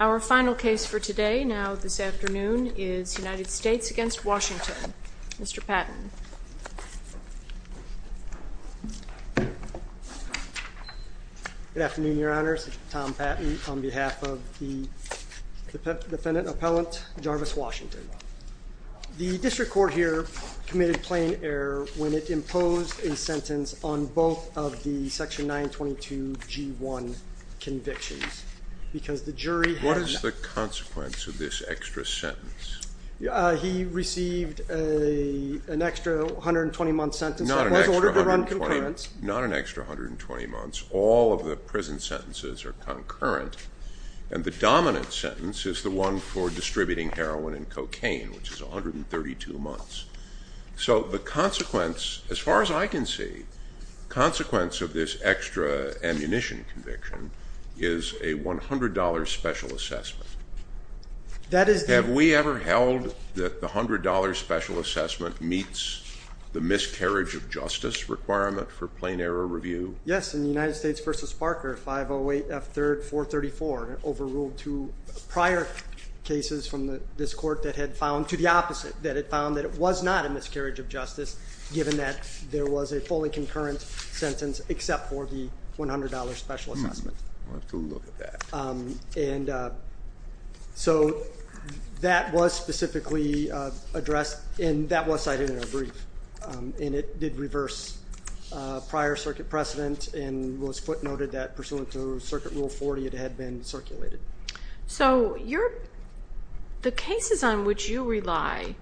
Our final case for today, now this afternoon, is United States v. Washington. Mr. Patton. Good afternoon, Your Honors. Tom Patton on behalf of the defendant appellant Jarvis Washington. The district court here committed plain error when it imposed a sentence on both of the section 922 G1 convictions because the jury had... What is the consequence of this extra sentence? He received an extra 120 month sentence that was ordered to run concurrent. Not an extra 120 months. All of the prison sentences are concurrent, and the dominant sentence is the one for distributing heroin and cocaine, which is 132 months. So the consequence, as far as I can see, consequence of this extra ammunition conviction is a $100 special assessment. Have we ever held that the $100 special assessment meets the miscarriage of justice requirement for plain error review? Yes, in the United States v. Parker, 508 F. 3rd. 434, overruled two prior cases from this court that had found to the opposite, that it found that it was not a miscarriage of justice, given that there was a fully concurrent sentence except for the $100 special assessment. I'll have to look at that. So that was specifically addressed, and that was cited in our brief. And it did reverse prior circuit precedent and was footnoted that pursuant to Circuit Rule 40, it had been circulated. So the cases on which you rely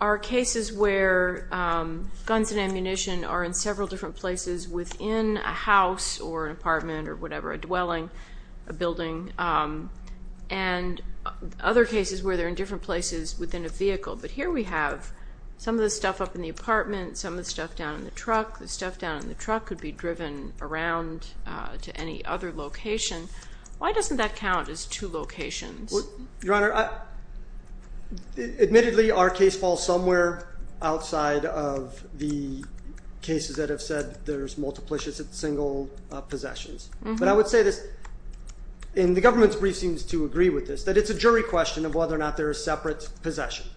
are cases where guns and ammunition are in several different places within a house or an apartment or whatever, a dwelling, a building, and other cases where they're in different places within a vehicle. But here we have some of the stuff up in the apartment, some of the stuff down in the truck. The stuff down in the truck could be driven around to any other location. Why doesn't that count as two locations? Your Honor, admittedly, our case falls somewhere outside of the cases that have said there's multiplicious single possessions. But I would say this, and the government's brief seems to agree with this, that it's a jury question of whether or not there are separate possessions.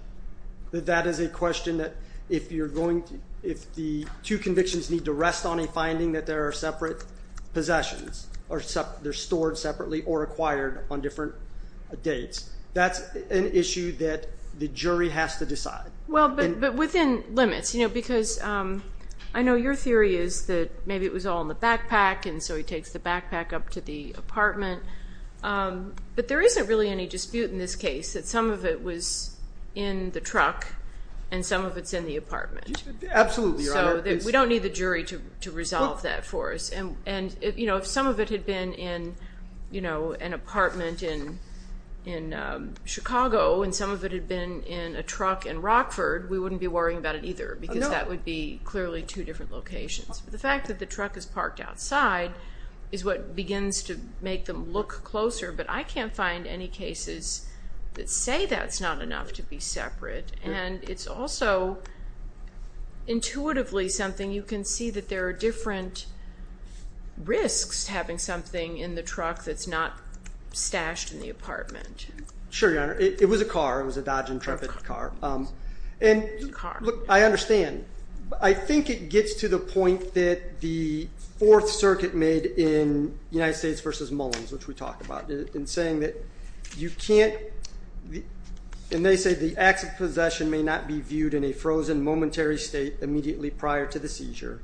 That that is a question that if the two convictions need to rest on a finding that there are separate possessions, or they're stored separately or acquired on different dates, that's an issue that the jury has to decide. Well, but within limits, you know, because I know your theory is that maybe it was all in the backpack, and so he takes the backpack up to the apartment. But there isn't really any dispute in this case that some of it was in the truck and some of it's in the apartment. Absolutely, Your Honor. So we don't need the jury to resolve that for us. And, you know, if some of it had been in, you know, an apartment in Chicago and some of it had been in a truck in Rockford, we wouldn't be worrying about it either because that would be clearly two different locations. The fact that the truck is parked outside is what begins to make them look closer, but I can't find any cases that say that's not enough to be separate. And it's also intuitively something you can see that there are different risks to having something in the truck that's not stashed in the apartment. Sure, Your Honor. It was a car. It was a Dodge Intrepid car. And look, I understand. I think it gets to the point that the Fourth Circuit made in United States v. Mullins, which we talked about, in saying that you can't, and they say, the acts of possession may not be viewed in a frozen momentary state immediately prior to the seizure,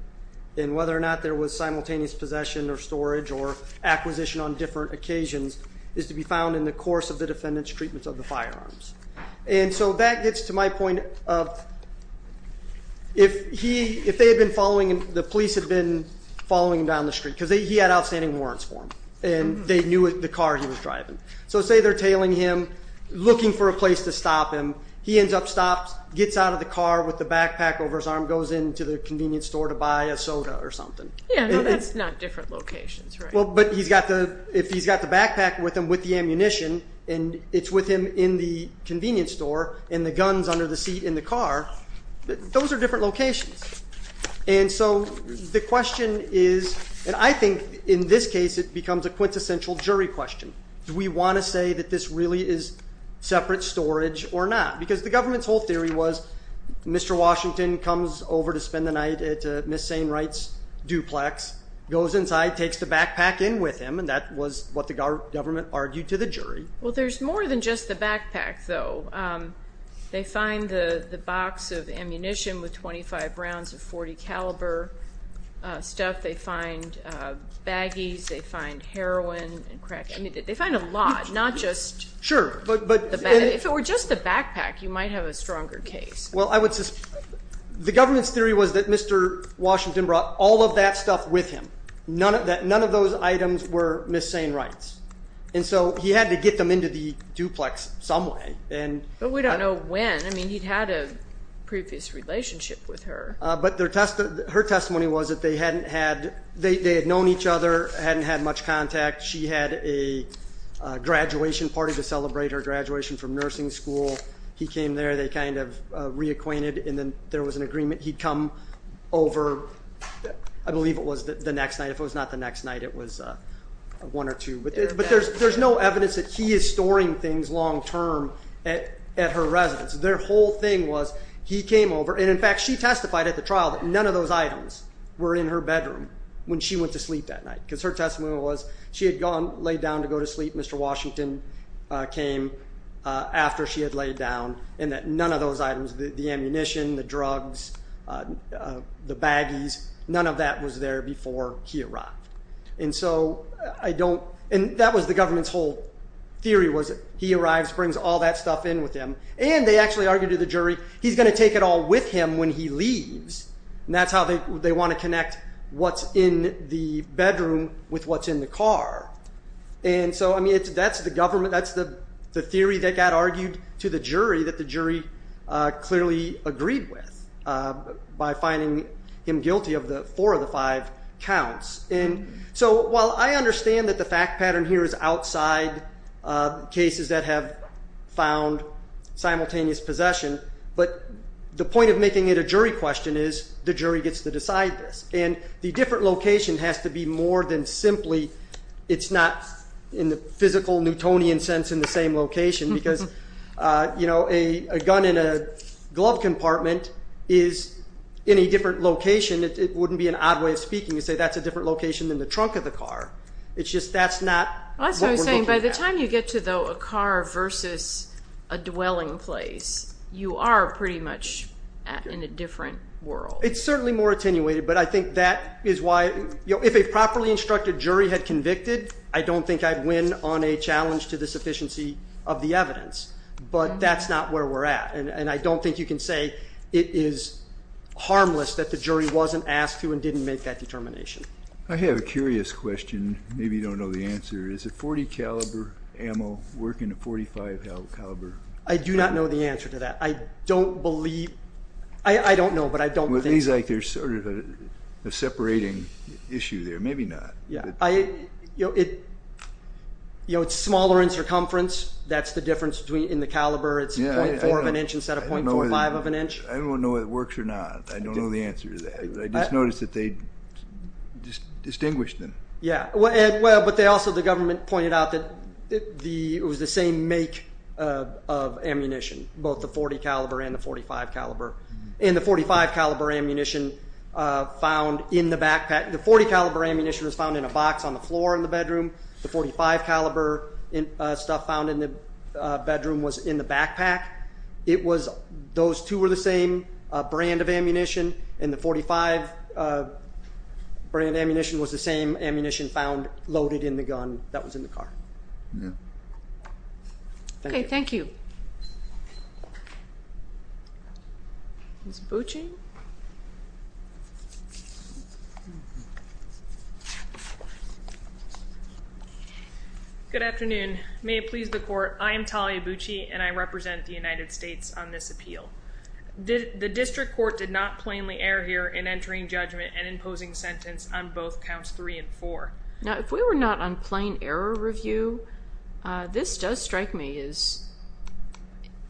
and whether or not there was simultaneous possession or storage or acquisition on different occasions is to be found in the course of the defendant's treatment of the firearms. And so that gets to my point of if they had been following him, the police had been following him down the street because he had outstanding warrants for them, and they knew the car he was driving. So say they're tailing him, looking for a place to stop him. He ends up stopped, gets out of the car with the backpack over his arm, goes into the convenience store to buy a soda or something. Yeah, no, that's not different locations, right? Well, but he's got the backpack with him with the ammunition, and it's with him in the convenience store, and the gun's under the seat in the car. Those are different locations. And so the question is, and I think in this case it becomes a quintessential jury question. Do we want to say that this really is separate storage or not? Because the government's whole theory was Mr. Washington comes over to spend the night at Ms. Sainwright's duplex, goes inside, takes the backpack in with him, and that was what the government argued to the jury. Well, there's more than just the backpack, though. They find the box of ammunition with 25 rounds of .40 caliber stuff. They find baggies. They find heroin and crack. I mean, they find a lot, not just the bag. If it were just the backpack, you might have a stronger case. The government's theory was that Mr. Washington brought all of that stuff with him. None of those items were Ms. Sainwright's. And so he had to get them into the duplex some way. But we don't know when. I mean, he'd had a previous relationship with her. But her testimony was that they had known each other, hadn't had much contact. She had a graduation party to celebrate her graduation from nursing school. He came there. They kind of reacquainted, and then there was an agreement. He'd come over, I believe it was the next night. If it was not the next night, it was one or two. But there's no evidence that he is storing things long term at her residence. Their whole thing was he came over. And, in fact, she testified at the trial that none of those items were in her bedroom when she went to sleep that night. Because her testimony was she had gone laid down to go to sleep. Mr. Washington came after she had laid down. And that none of those items, the ammunition, the drugs, the baggies, none of that was there before he arrived. And so I don't – and that was the government's whole theory was he arrives, brings all that stuff in with him. And they actually argued to the jury he's going to take it all with him when he leaves. And that's how they want to connect what's in the bedroom with what's in the car. And so, I mean, that's the government. That's the theory that got argued to the jury that the jury clearly agreed with by finding him guilty of the four of the five counts. And so while I understand that the fact pattern here is outside cases that have found simultaneous possession, but the point of making it a jury question is the jury gets to decide this. And the different location has to be more than simply it's not in the physical Newtonian sense in the same location. Because a gun in a glove compartment is in a different location. It wouldn't be an odd way of speaking to say that's a different location than the trunk of the car. It's just that's not what we're looking at. That's what I'm saying. By the time you get to, though, a car versus a dwelling place, you are pretty much in a different world. It's certainly more attenuated, but I think that is why if a properly instructed jury had convicted, I don't think I'd win on a challenge to the sufficiency of the evidence. But that's not where we're at. And I don't think you can say it is harmless that the jury wasn't asked to and didn't make that determination. I have a curious question. Maybe you don't know the answer. Is a .40 caliber ammo working a .45 caliber? I do not know the answer to that. I don't know, but I don't think. It seems like there's sort of a separating issue there. Maybe not. It's smaller in circumference. That's the difference in the caliber. It's .4 of an inch instead of .45 of an inch. I don't know whether it works or not. I don't know the answer to that. I just noticed that they distinguished them. But also the government pointed out that it was the same make of ammunition, both the .40 caliber and the .45 caliber. And the .45 caliber ammunition found in the backpack. The .40 caliber ammunition was found in a box on the floor in the bedroom. The .45 caliber stuff found in the bedroom was in the backpack. Those two were the same brand of ammunition. And the .45 brand ammunition was the same ammunition found loaded in the gun that was in the car. Okay, thank you. Good afternoon. May it please the court. I am Talia Bucci, and I represent the United States on this appeal. The district court did not plainly err here in entering judgment and imposing sentence on both counts three and four. Now, if we were not on plain error review, this does strike me as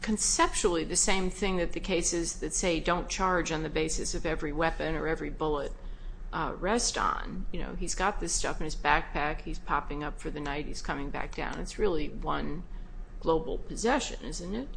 conceptually the same thing that the cases that say don't charge on the basis of every weapon or every bullet rest on. You know, he's got this stuff in his backpack. He's popping up for the night. He's coming back down. It's really one global possession, isn't it?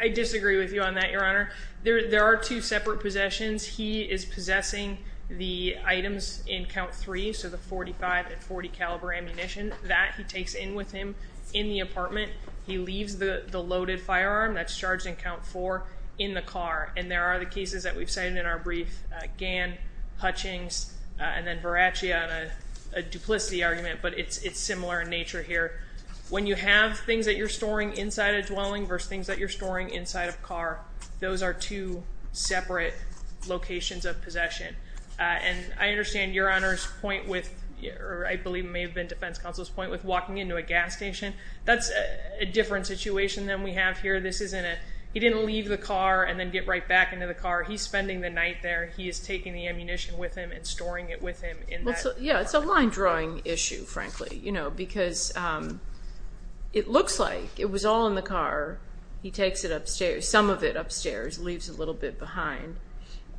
I disagree with you on that, Your Honor. There are two separate possessions. He is possessing the items in count three, so the .45 and .40 caliber ammunition. That he takes in with him in the apartment. He leaves the loaded firearm that's charged in count four in the car. And there are the cases that we've cited in our brief. Gann, Hutchings, and then Verracchia on a duplicity argument, but it's similar in nature here. When you have things that you're storing inside a dwelling versus things that you're storing inside a car, those are two separate locations of possession. And I understand Your Honor's point with, or I believe may have been defense counsel's point with walking into a gas station. That's a different situation than we have here. This isn't a. He didn't leave the car and then get right back into the car. He's spending the night there. He is taking the ammunition with him and storing it with him in that apartment. Yeah, it's a line drawing issue, frankly, because it looks like it was all in the car. He takes it upstairs, some of it upstairs, leaves a little bit behind.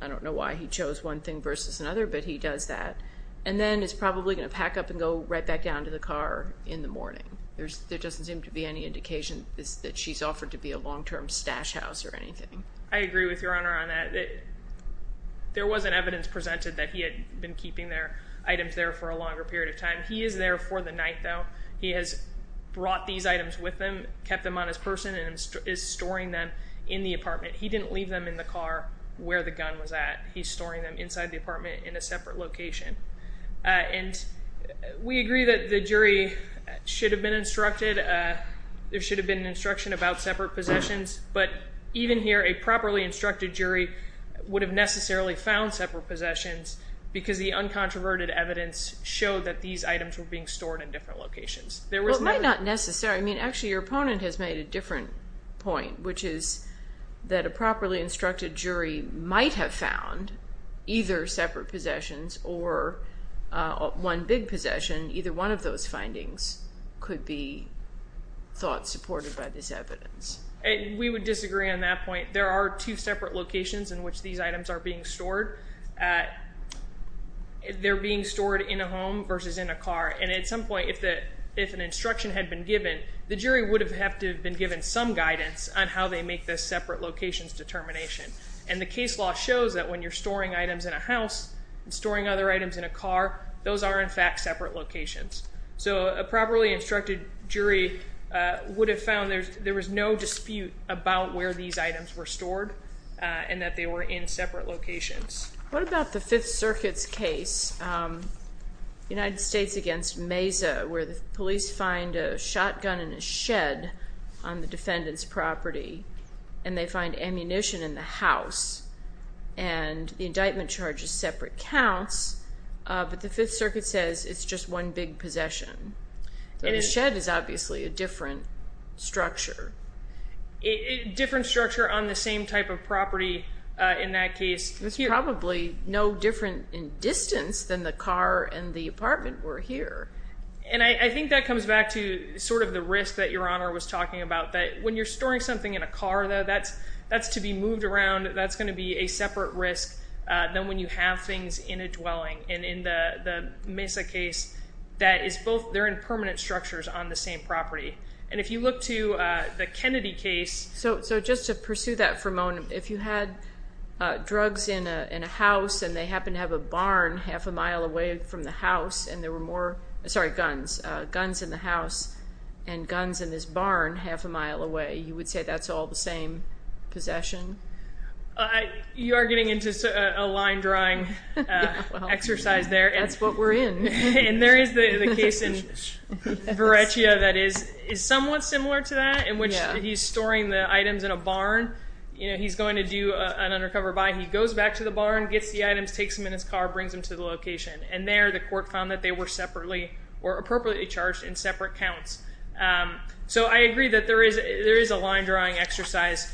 I don't know why he chose one thing versus another, but he does that. And then is probably going to pack up and go right back down to the car in the morning. There doesn't seem to be any indication that she's offered to be a long-term stash house or anything. I agree with Your Honor on that. There wasn't evidence presented that he had been keeping their items there for a longer period of time. He is there for the night, though. He has brought these items with him, kept them on his person, and is storing them in the apartment. He didn't leave them in the car where the gun was at. He's storing them inside the apartment in a separate location. And we agree that the jury should have been instructed. There should have been instruction about separate possessions. But even here, a properly instructed jury would have necessarily found separate possessions because the uncontroverted evidence showed that these items were being stored in different locations. Well, it might not necessarily. I mean, actually, your opponent has made a different point, which is that a properly instructed jury might have found either separate possessions or one big possession. Either one of those findings could be thought supported by this evidence. We would disagree on that point. There are two separate locations in which these items are being stored. They're being stored in a home versus in a car. And at some point, if an instruction had been given, the jury would have had to have been given some guidance on how they make this separate locations determination. And the case law shows that when you're storing items in a house and storing other items in a car, those are, in fact, separate locations. So a properly instructed jury would have found there was no dispute about where these items were stored and that they were in separate locations. What about the Fifth Circuit's case, United States against Mesa, where the police find a shotgun in a shed on the defendant's property and they find ammunition in the house and the indictment charges separate counts, but the Fifth Circuit says it's just one big possession. The shed is obviously a different structure. Different structure on the same type of property in that case. It's probably no different in distance than the car and the apartment were here. And I think that comes back to sort of the risk that Your Honor was talking about, that when you're storing something in a car, though, that's to be moved around. That's going to be a separate risk than when you have things in a dwelling. And in the Mesa case, that is both. They're in permanent structures on the same property. And if you look to the Kennedy case. So just to pursue that for a moment, if you had drugs in a house and they happened to have a barn half a mile away from the house and there were more guns in the house and guns in this barn half a mile away, you would say that's all the same possession? You are getting into a line drawing exercise there. That's what we're in. And there is the case in Varechia that is somewhat similar to that in which he's storing the items in a barn. He's going to do an undercover buy. He goes back to the barn, gets the items, takes them in his car, brings them to the location. And there the court found that they were separately or appropriately charged in separate counts. So I agree that there is a line drawing exercise.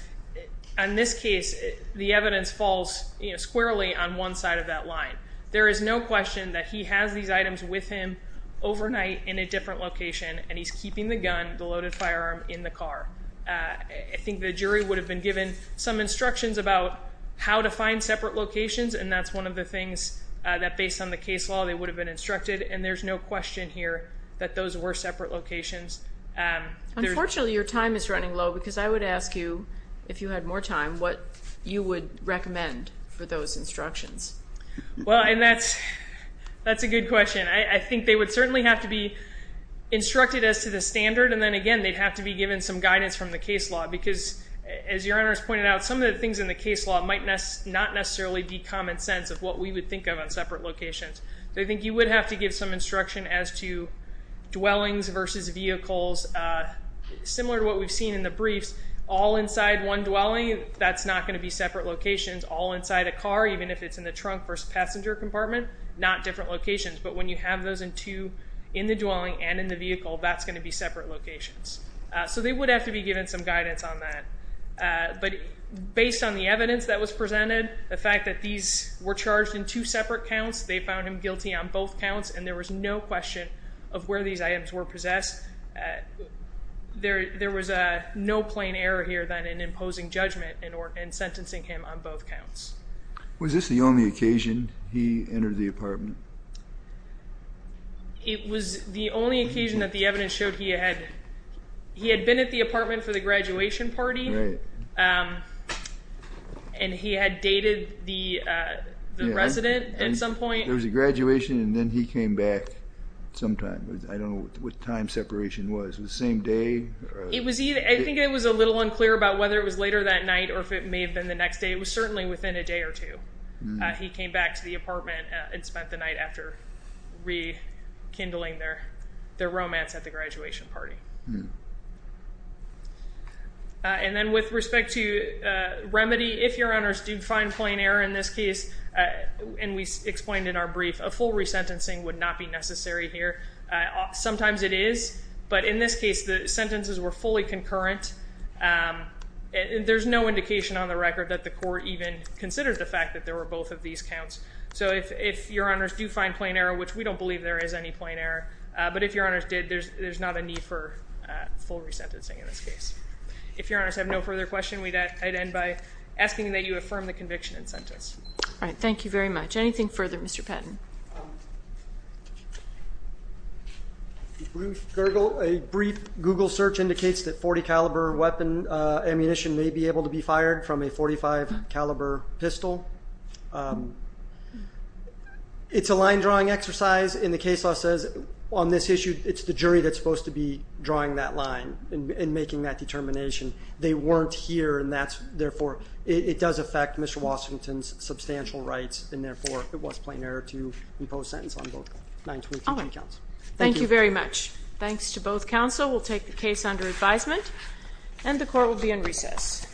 In this case, the evidence falls squarely on one side of that line. There is no question that he has these items with him overnight in a different location, and he's keeping the gun, the loaded firearm, in the car. I think the jury would have been given some instructions about how to find separate locations, and that's one of the things that, based on the case law, they would have been instructed. And there's no question here that those were separate locations. Unfortunately, your time is running low because I would ask you, if you had more time, what you would recommend for those instructions. Well, and that's a good question. I think they would certainly have to be instructed as to the standard, and then, again, they'd have to be given some guidance from the case law because, as your Honor has pointed out, some of the things in the case law might not necessarily be common sense of what we would think of on separate locations. So I think you would have to give some instruction as to dwellings versus vehicles. Similar to what we've seen in the briefs, all inside one dwelling, that's not going to be separate locations. All inside a car, even if it's in the trunk versus passenger compartment, not different locations. But when you have those in two in the dwelling and in the vehicle, that's going to be separate locations. So they would have to be given some guidance on that. But based on the evidence that was presented, the fact that these were charged in two separate counts, they found him guilty on both counts, and there was no question of where these items were possessed. There was no plain error here than in imposing judgment and sentencing him on both counts. Was this the only occasion he entered the apartment? It was the only occasion that the evidence showed he had been at the apartment for the graduation party. Right. And he had dated the resident at some point. There was a graduation, and then he came back sometime. I don't know what time separation was. Was it the same day? I think it was a little unclear about whether it was later that night or if it may have been the next day. It was certainly within a day or two. He came back to the apartment and spent the night after rekindling their romance at the graduation party. And then with respect to remedy, if your honors do find plain error in this case, and we explained in our brief, a full resentencing would not be necessary here. Sometimes it is, but in this case the sentences were fully concurrent. There's no indication on the record that the court even considered the fact that there were both of these counts. So if your honors do find plain error, which we don't believe there is any plain error, but if your honors did, there's not a need for full resentencing in this case. If your honors have no further questions, I'd end by asking that you affirm the conviction in sentence. All right. Thank you very much. Anything further, Mr. Patton? A brief Google search indicates that .40 caliber weapon ammunition may be able to be fired from a .45 caliber pistol. It's a line drawing exercise, and the case law says on this issue it's the jury that's supposed to be drawing that line and making that determination. They weren't here, and therefore it does affect Mr. Washington's substantial rights, and therefore it was plain error to impose sentence on both 923 counts. Thank you very much. Thanks to both counsel. We'll take the case under advisement, and the court will be in recess. Thank you.